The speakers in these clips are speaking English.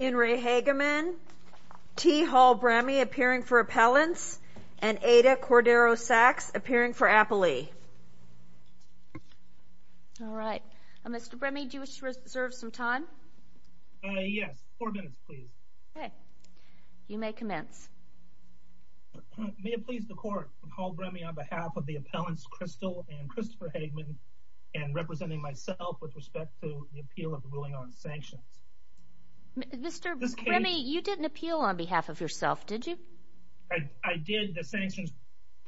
Henry Hageman, T. Hall Brammey appearing for appellants, and Ada Cordero-Sacks appearing for appellee. Alright. Mr. Brammey, do you wish to reserve some time? Yes. Four minutes, please. Okay. You may commence. May it please the Court, from Hall Brammey on behalf of the appellants, Crystal and Christopher Hageman, and representing myself with respect to the appeal of the ruling on sanctions. Mr. Brammey, you didn't appeal on behalf of yourself, did you? I did the sanctions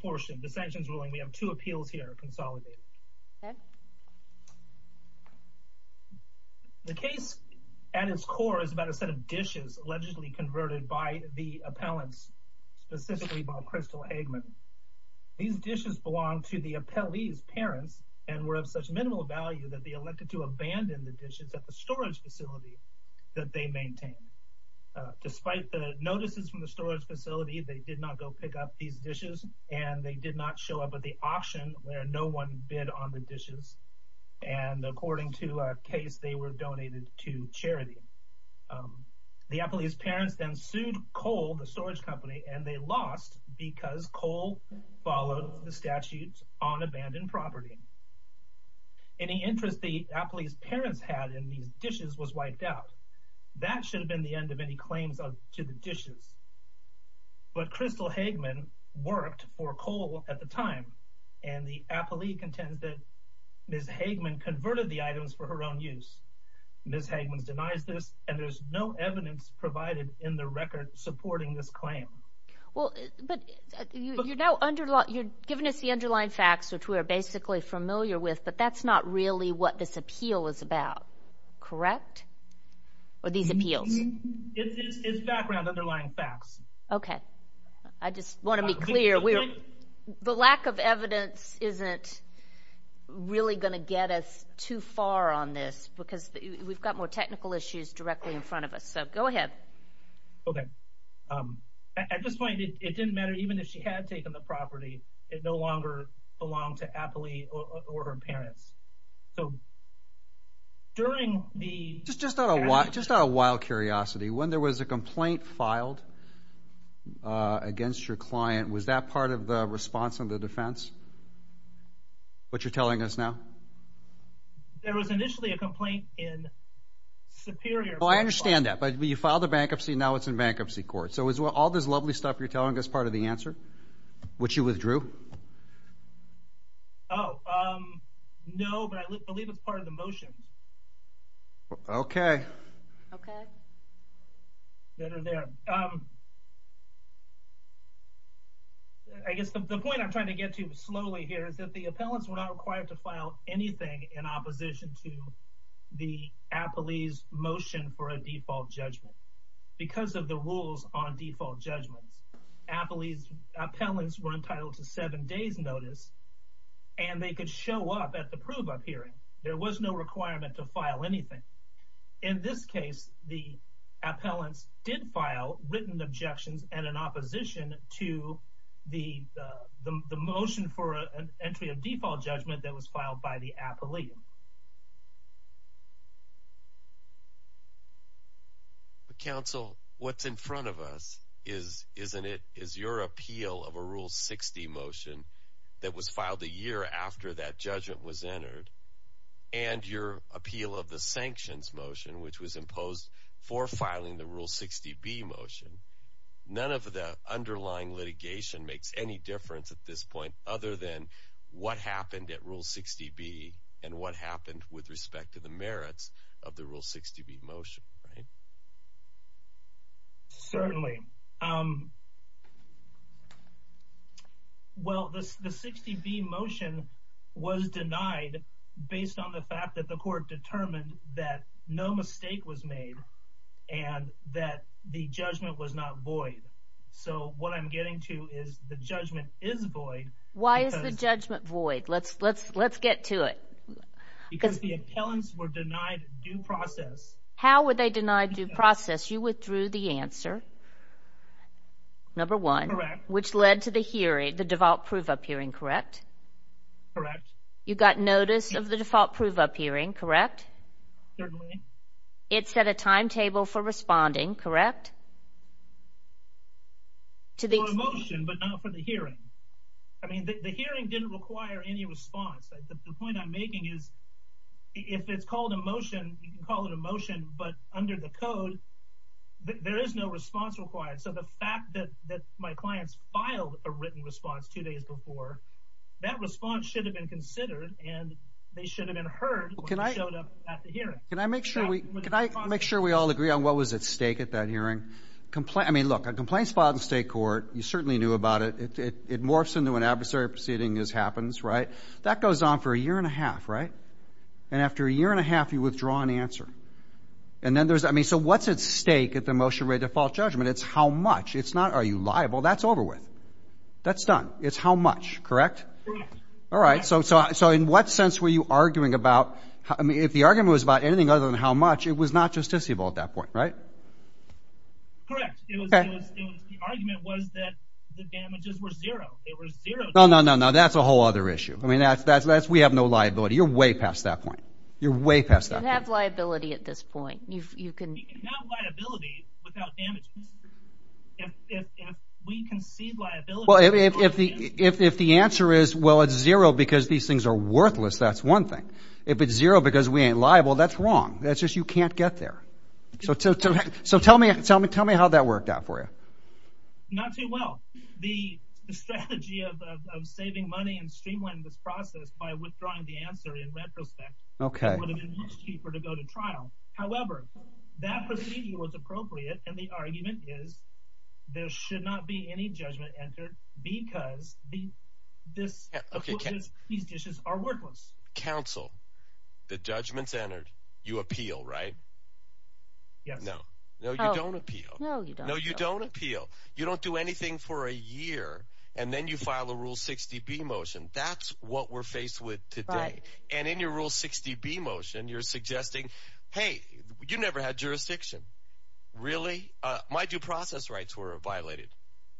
portion, the sanctions ruling. We have two appeals here consolidated. Okay. The case at its core is about a set of dishes allegedly converted by the appellants, specifically by Crystal Hageman. These dishes belonged to the appellee's parents, and were of such minimal value that they elected to abandon the dishes at the storage facility that they maintained. Despite the notices from the storage facility, they did not go pick up these dishes, and they did not show up at the auction where no one bid on the dishes. And according to a case, they were donated to charity. The appellee's parents then sued Cole, the storage company, and they lost because Cole followed the statutes on abandoned property. Any interest the appellee's parents had in these dishes was wiped out. That should have been the end of any claims to the dishes. But Crystal Hageman worked for Cole at the time, and the appellee contended that Ms. Hageman converted the items for her own use. Ms. Hageman denies this, and there's no evidence provided in the record supporting this claim. Well, but you're now giving us the underlying facts, which we are basically familiar with, but that's not really what this appeal is about, correct? Or these appeals? It's background, underlying facts. Okay. I just want to be clear. The lack of evidence isn't really going to get us too far on this because we've got more technical issues directly in front of us. So go ahead. Okay. At this point, it didn't matter. Even if she had taken the property, it no longer belonged to appellee or her parents. Just out of wild curiosity, when there was a complaint filed against your client, was that part of the response on the defense, what you're telling us now? There was initially a complaint in Superior Court. Oh, I understand that. But you filed a bankruptcy, and now it's in bankruptcy court. So is all this lovely stuff you're telling us part of the answer, which you withdrew? Oh, no, but I believe it's part of the motion. Okay. Okay. I guess the point I'm trying to get to slowly here is that the appellants were not required to file anything in opposition to the appellee's motion for a default judgment. Because of the rules on default judgment, appellants were entitled to seven days' notice, and they could show up at the prove-up hearing. There was no requirement to file anything. In this case, the appellants did file written objections and an opposition to the motion for an entry of default judgment that was filed by the appellee. Counsel, what's in front of us is your appeal of a Rule 60 motion that was filed a year after that judgment was entered, and your appeal of the sanctions motion, which was imposed for filing the Rule 60B motion. None of the underlying litigation makes any difference at this point other than what happened at Rule 60B and what happened with respect to the merits of the Rule 60B motion, right? Certainly. Well, the 60B motion was denied based on the fact that the court determined that no mistake was made and that the judgment was not void. So what I'm getting to is the judgment is void. Why is the judgment void? Let's get to it. Because the appellants were denied due process. How were they denied due process? You withdrew the answer, number one, which led to the hearing, the default prove-up hearing, correct? Correct. You got notice of the default prove-up hearing, correct? Certainly. It set a timetable for responding, correct? For a motion, but not for the hearing. I mean, the hearing didn't require any response. The point I'm making is if it's called a motion, you can call it a motion, but under the code, there is no response required. So the fact that my clients filed a written response two days before, that response should have been considered and they should have been heard when they showed up at the hearing. Can I make sure we all agree on what was at stake at that hearing? I mean, look, a complaint is filed in state court. You certainly knew about it. It morphs into an adversary proceeding as happens, right? That goes on for a year and a half, right? And after a year and a half, you withdraw an answer. And then there's, I mean, so what's at stake at the motion of a default judgment? It's how much. It's not are you liable. That's over with. That's done. It's how much, correct? Correct. All right. So in what sense were you arguing about, I mean, if the argument was about anything other than how much, it was not justiciable at that point, right? Correct. The argument was that the damages were zero. They were zero. No, no, no, no. That's a whole other issue. I mean, we have no liability. You're way past that point. You're way past that point. You have liability at this point. You can have liability without damages. If we concede liability. Well, if the answer is, well, it's zero because these things are worthless, that's one thing. If it's zero because we ain't liable, that's wrong. That's just you can't get there. So tell me how that worked out for you. Not too well. The strategy of saving money and streamlining this process by withdrawing the answer in retrospect would have been much cheaper to go to trial. However, that proceeding was appropriate, and the argument is there should not be any judgment entered because these dishes are worthless. Counsel, the judgment's entered. You appeal, right? Yes. No. No, you don't appeal. No, you don't appeal. No, you don't appeal. You don't do anything for a year, and then you file a Rule 60B motion. That's what we're faced with today. Right. And in your Rule 60B motion, you're suggesting, hey, you never had jurisdiction. Really? My due process rights were violated.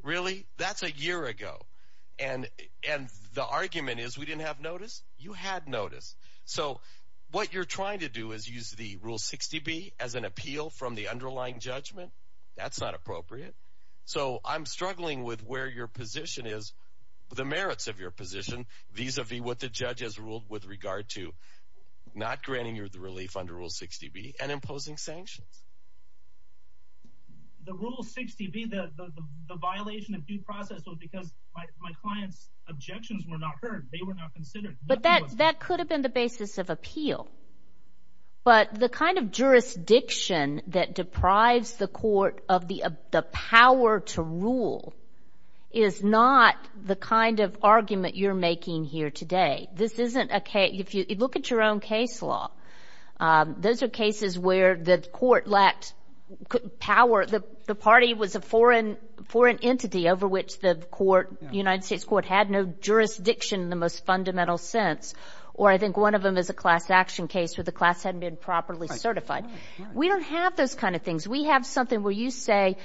Really? That's a year ago. And the argument is we didn't have notice? You had notice. So what you're trying to do is use the Rule 60B as an appeal from the underlying judgment. That's not appropriate. So I'm struggling with where your position is, the merits of your position vis-a-vis what the judge has ruled with regard to not granting you the relief under Rule 60B and imposing sanctions. The Rule 60B, the violation of due process was because my client's objections were not heard. They were not considered. But that could have been the basis of appeal. But the kind of jurisdiction that deprives the court of the power to rule is not the kind of argument you're making here today. This isn't a case. If you look at your own case law, those are cases where the court lacked power. The party was a foreign entity over which the United States court had no jurisdiction in the most fundamental sense. Or I think one of them is a class action case where the class hadn't been properly certified. We don't have those kind of things. We have something where you say,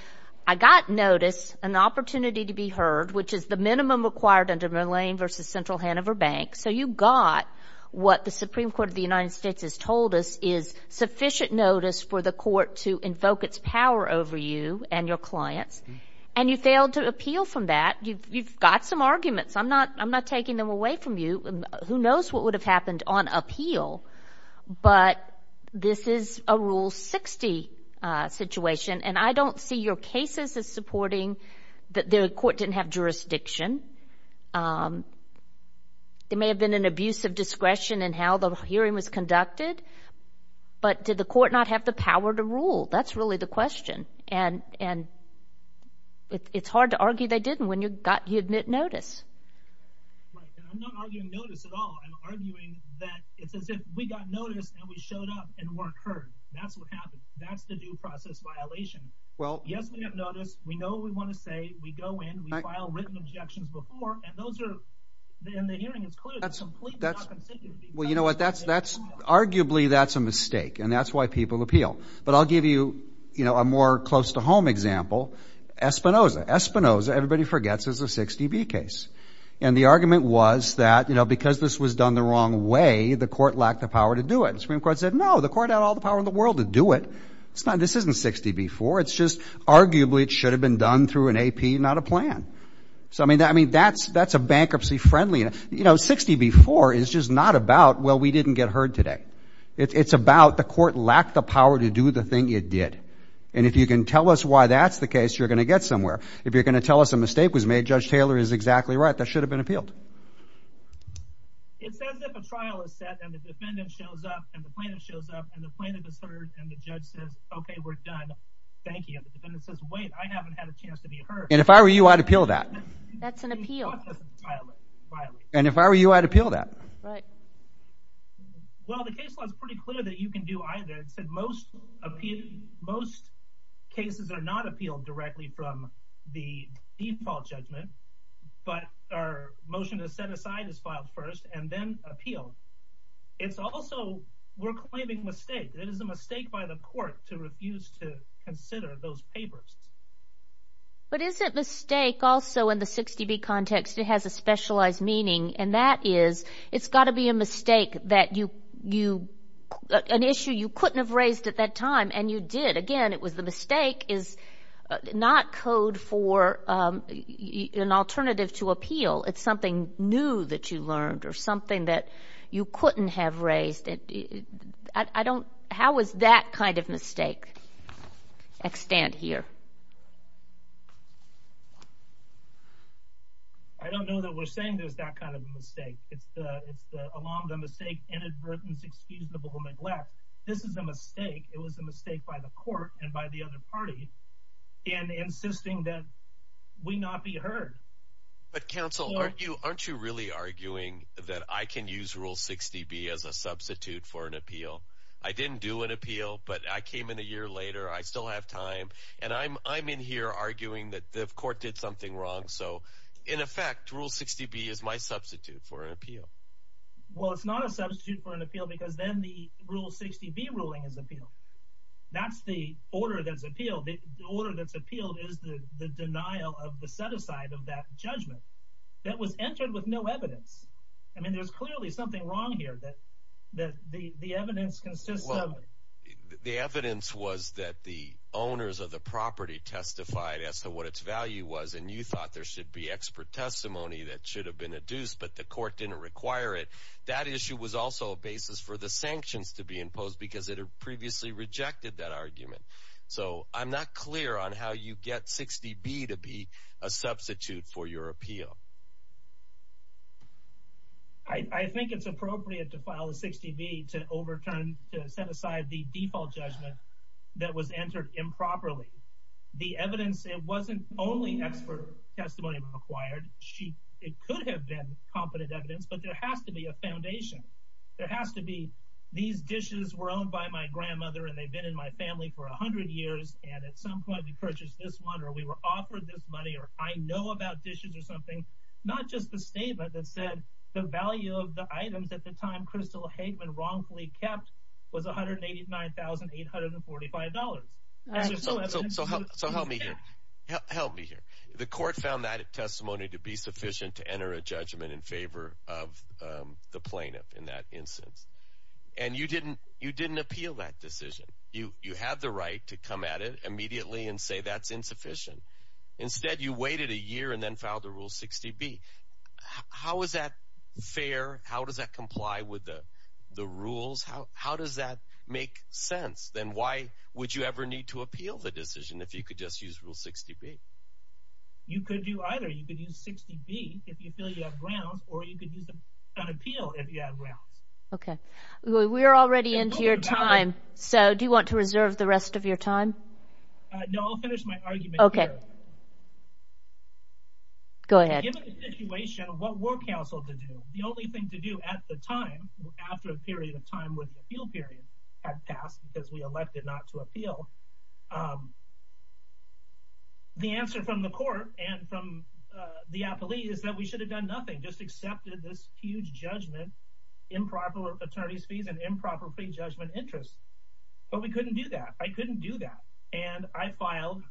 I got notice, an opportunity to be heard, which is the minimum required under Mullane v. Central Hanover Bank. So you got what the Supreme Court of the United States has told us is sufficient notice for the court to invoke its power over you and your clients. And you failed to appeal from that. You've got some arguments. I'm not taking them away from you. Who knows what would have happened on appeal? But this is a Rule 60 situation. And I don't see your cases as supporting that the court didn't have jurisdiction. It may have been an abuse of discretion in how the hearing was conducted. But did the court not have the power to rule? That's really the question. And it's hard to argue they didn't when you got notice. I'm not arguing notice at all. I'm arguing that it's as if we got notice and we showed up and weren't heard. That's what happened. That's the due process violation. Yes, we got notice. We know what we want to say. We go in. We file written objections before. And the hearing is clear. It's completely not consensual. Well, you know what, arguably that's a mistake. And that's why people appeal. But I'll give you a more close-to-home example. Espinoza. Espinoza, everybody forgets, is a 60B case. And the argument was that because this was done the wrong way, the court lacked the power to do it. The Supreme Court said, no, the court had all the power in the world to do it. This isn't 60B-4. It's just arguably it should have been done through an AP, not a plan. So, I mean, that's a bankruptcy-friendly. You know, 60B-4 is just not about, well, we didn't get heard today. It's about the court lacked the power to do the thing it did. And if you can tell us why that's the case, you're going to get somewhere. If you're going to tell us a mistake was made, Judge Taylor is exactly right. That should have been appealed. It says that the trial is set and the defendant shows up and the plaintiff shows up and the plaintiff is heard and the judge says, okay, we're done. Thank you. And the defendant says, wait, I haven't had a chance to be heard. And if I were you, I'd appeal that. That's an appeal. And if I were you, I'd appeal that. Well, the case law is pretty clear that you can do either. It said most cases are not appealed directly from the default judgment, but our motion to set aside is filed first and then appealed. It's also we're claiming mistake. It is a mistake by the court to refuse to consider those papers. But is it mistake also in the 60B context? It has a specialized meaning, and that is it's got to be a mistake that you – an issue you couldn't have raised at that time, and you did. Again, it was the mistake is not code for an alternative to appeal. It's something new that you learned or something that you couldn't have raised. I don't – how is that kind of mistake extant here? I don't know that we're saying there's that kind of a mistake. It's along the mistake, inadvertence, excusable neglect. This is a mistake. It was a mistake by the court and by the other party in insisting that we not be heard. But counsel, aren't you really arguing that I can use Rule 60B as a substitute for an appeal? I didn't do an appeal, but I came in a year later. I still have time, and I'm in here arguing that the court did something wrong. So in effect, Rule 60B is my substitute for an appeal. Well, it's not a substitute for an appeal because then the Rule 60B ruling is appealed. That's the order that's appealed. The order that's appealed is the denial of the set-aside of that judgment that was entered with no evidence. I mean there's clearly something wrong here that the evidence consists of. Well, the evidence was that the owners of the property testified as to what its value was, and you thought there should be expert testimony that should have been adduced, but the court didn't require it. That issue was also a basis for the sanctions to be imposed because it had previously rejected that argument. So I'm not clear on how you get 60B to be a substitute for your appeal. I think it's appropriate to file a 60B to overturn, to set aside the default judgment that was entered improperly. The evidence, it wasn't only expert testimony required. It could have been competent evidence, but there has to be a foundation. There has to be these dishes were owned by my grandmother, and they've been in my family for 100 years, and at some point we purchased this one, or we were offered this money, or I know about dishes or something. Not just the statement that said the value of the items at the time Crystal Hageman wrongfully kept was $189,845. So help me here. Help me here. The court found that testimony to be sufficient to enter a judgment in favor of the plaintiff in that instance, and you didn't appeal that decision. You have the right to come at it immediately and say that's insufficient. Instead, you waited a year and then filed the rule 60B. How is that fair? How does that comply with the rules? How does that make sense? Then why would you ever need to appeal the decision if you could just use rule 60B? You could do either. You could use 60B if you feel you have ground, or you could use an appeal if you have ground. Okay. We're already into your time, so do you want to reserve the rest of your time? No, I'll finish my argument here. Okay. Go ahead. Given the situation, what were counsel to do? The only thing to do at the time, after a period of time when the appeal period had passed because we elected not to appeal, the answer from the court and from the appellee is that we should have done nothing, just accepted this huge judgment, improper attorney's fees, and improper pre-judgment interest. But we couldn't do that. I couldn't do that. And I filed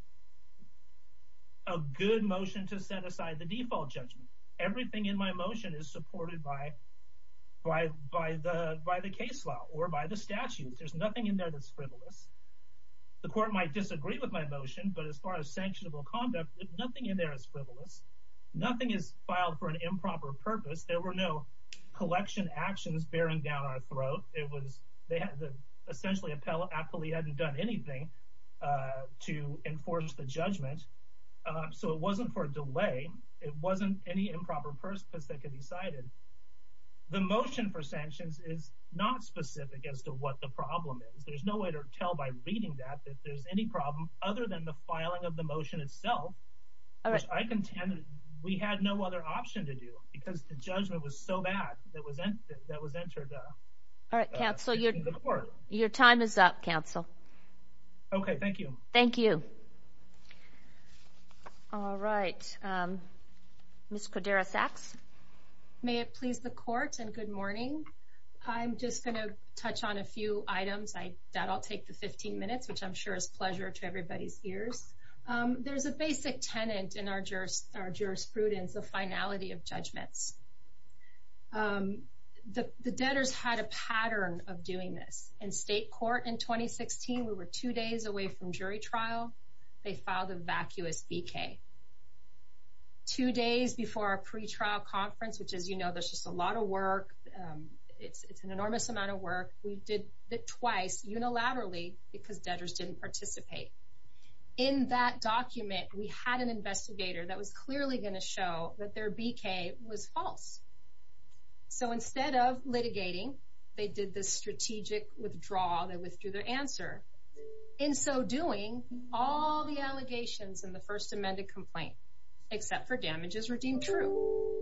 a good motion to set aside the default judgment. Everything in my motion is supported by the case law or by the statutes. There's nothing in there that's frivolous. The court might disagree with my motion, but as far as sanctionable conduct, there's nothing in there that's frivolous. Nothing is filed for an improper purpose. There were no collection actions bearing down our throat. Essentially, the appellee hadn't done anything to enforce the judgment, so it wasn't for a delay. It wasn't any improper purpose that could be cited. The motion for sanctions is not specific as to what the problem is. There's no way to tell by reading that that there's any problem other than the filing of the motion itself, which I contend we had no other option to do because the judgment was so bad that was entered into the court. Your time is up, counsel. Okay, thank you. Thank you. All right. Ms. Cordera-Sacks? May it please the court and good morning. I'm just going to touch on a few items. That'll take the 15 minutes, which I'm sure is a pleasure to everybody's ears. There's a basic tenet in our jurisprudence, the finality of judgments. The debtors had a pattern of doing this. In state court in 2016, we were two days away from jury trial. They filed a vacuous BK. Two days before our pretrial conference, which, as you know, there's just a lot of work. It's an enormous amount of work. We did it twice unilaterally because debtors didn't participate. In that document, we had an investigator that was clearly going to show that their BK was false. So instead of litigating, they did the strategic withdrawal. They withdrew their answer. In so doing, all the allegations in the first amended complaint, except for damages, were deemed true.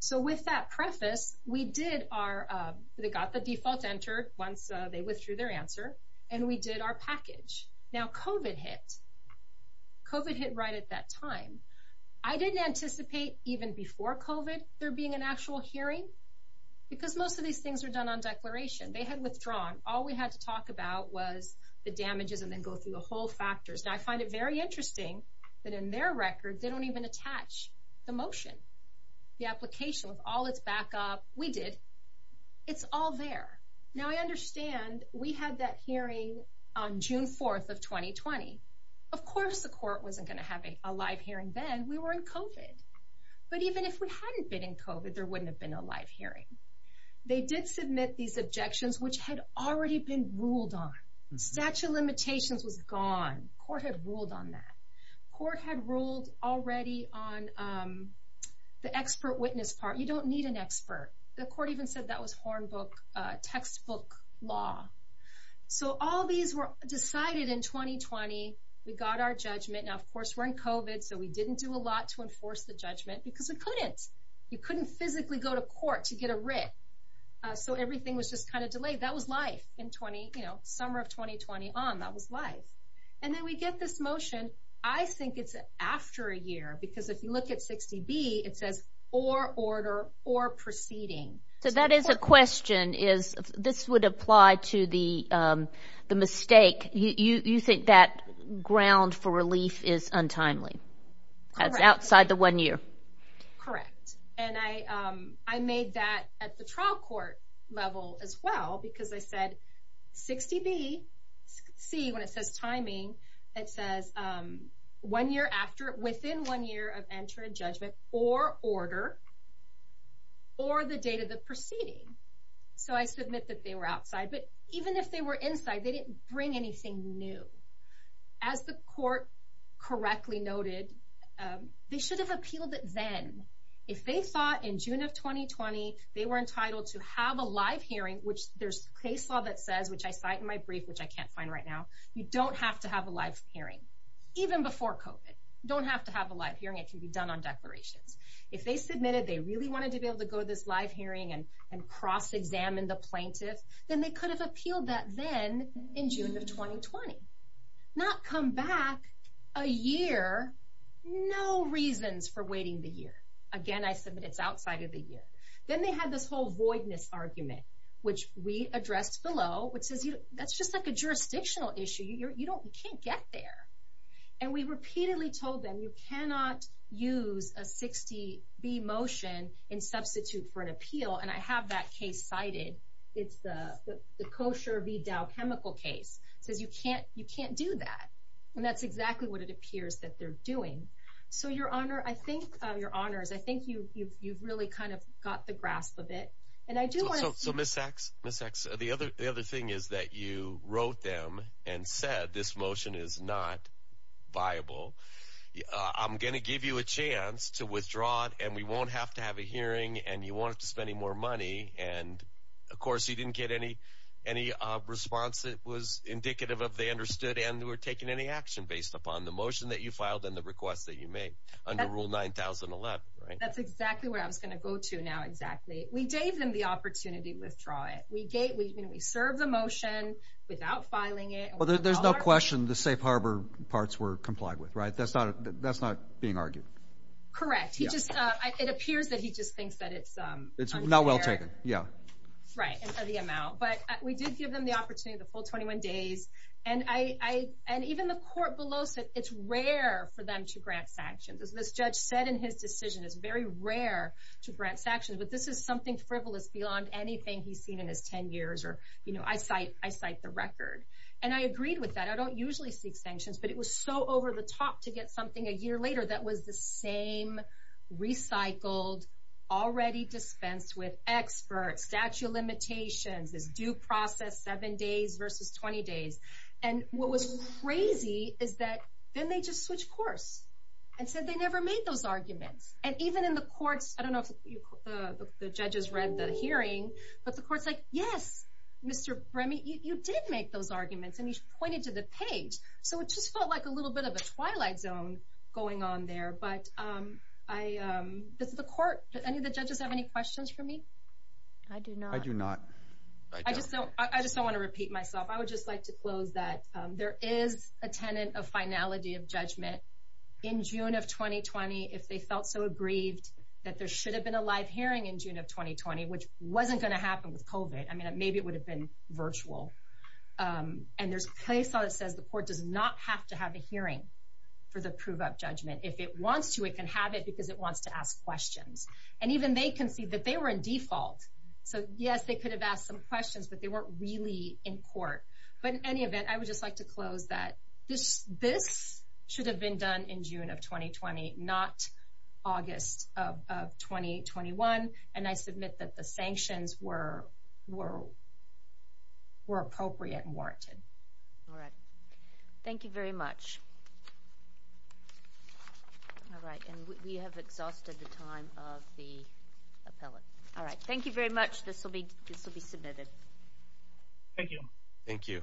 So with that preface, we got the default entered once they withdrew their answer, and we did our package. Now, COVID hit. COVID hit right at that time. I didn't anticipate even before COVID there being an actual hearing because most of these things were done on declaration. They had withdrawn. All we had to talk about was the damages and then go through the whole factors. Now, I find it very interesting that in their record, they don't even attach the motion, the application with all its backup. We did. It's all there. Now, I understand we had that hearing on June 4th of 2020. Of course the court wasn't going to have a live hearing then. We were in COVID. But even if we hadn't been in COVID, there wouldn't have been a live hearing. They did submit these objections, which had already been ruled on. Statute of limitations was gone. Court had ruled on that. Court had ruled already on the expert witness part. You don't need an expert. The court even said that was textbook law. So all these were decided in 2020. We got our judgment. Now, of course, we're in COVID, so we didn't do a lot to enforce the judgment because we couldn't. You couldn't physically go to court to get a writ. So everything was just kind of delayed. That was life in summer of 2020 on. That was life. And then we get this motion. I think it's after a year because if you look at 60B, it says or order or proceeding. So that is a question. This would apply to the mistake. You think that ground for relief is untimely? That's outside the one year. Correct. And I made that at the trial court level as well because I said 60B, C, when it says timing, it says within one year of entering judgment or order or the date of the proceeding. So I submit that they were outside. But even if they were inside, they didn't bring anything new. As the court correctly noted, they should have appealed it then. If they thought in June of 2020, they were entitled to have a live hearing, which there's case law that says, which I cite in my brief, which I can't find right now, you don't have to have a live hearing, even before COVID. You don't have to have a live hearing. It can be done on declarations. If they submitted they really wanted to be able to go to this live hearing and cross-examine the plaintiff, then they could have appealed that then in June of 2020, not come back a year, no reasons for waiting the year. Again, I submit it's outside of the year. Then they had this whole voidness argument, which we addressed below, which says that's just like a jurisdictional issue. You can't get there. And we repeatedly told them you cannot use a 60B motion in substitute for an appeal, and I have that case cited. It's the Kosher v. Dow Chemical case. It says you can't do that. And that's exactly what it appears that they're doing. So, Your Honor, I think, Your Honors, I think you've really kind of got the grasp of it. And I do want to say- So, Ms. Sachs, the other thing is that you wrote them and said this motion is not viable. I'm going to give you a chance to withdraw it, and we won't have to have a hearing, and you won't have to spend any more money. And, of course, you didn't get any response that was indicative of they understood and were taking any action based upon the motion that you filed and the request that you made under Rule 9011, right? That's exactly where I was going to go to now, exactly. We gave them the opportunity to withdraw it. We served the motion without filing it. Well, there's no question the safe harbor parts were complied with, right? That's not being argued. Correct. It appears that he just thinks that it's unfair. It's not well taken, yeah. Right, for the amount. But we did give them the opportunity, the full 21 days. And even the court below said it's rare for them to grant sanctions. As this judge said in his decision, it's very rare to grant sanctions. But this is something frivolous beyond anything he's seen in his 10 years, or, you know, I cite the record. And I agreed with that. I don't usually seek sanctions. But it was so over the top to get something a year later that was the same recycled, already dispensed with experts, statute of limitations, this due process, seven days versus 20 days. And what was crazy is that then they just switched course and said they never made those arguments. And even in the courts, I don't know if the judges read the hearing. But the court's like, yes, Mr. Bremy, you did make those arguments. And you pointed to the page. So it just felt like a little bit of a twilight zone going on there. But does the court, do any of the judges have any questions for me? I do not. I do not. I just don't want to repeat myself. I would just like to close that there is a tenant of finality of judgment. In June of 2020, if they felt so aggrieved that there should have been a live hearing in June of 2020, which wasn't going to happen with COVID. I mean, maybe it would have been virtual. And there's a case law that says the court does not have to have a hearing for the prove up judgment. If it wants to, it can have it because it wants to ask questions. And even they can see that they were in default. So, yes, they could have asked some questions, but they weren't really in court. But in any event, I would just like to close that this should have been done in June of 2020, not August of 2021. And I submit that the sanctions were appropriate and warranted. All right. Thank you very much. All right. And we have exhausted the time of the appellate. All right. Thank you very much. This will be submitted. Thank you. Thank you.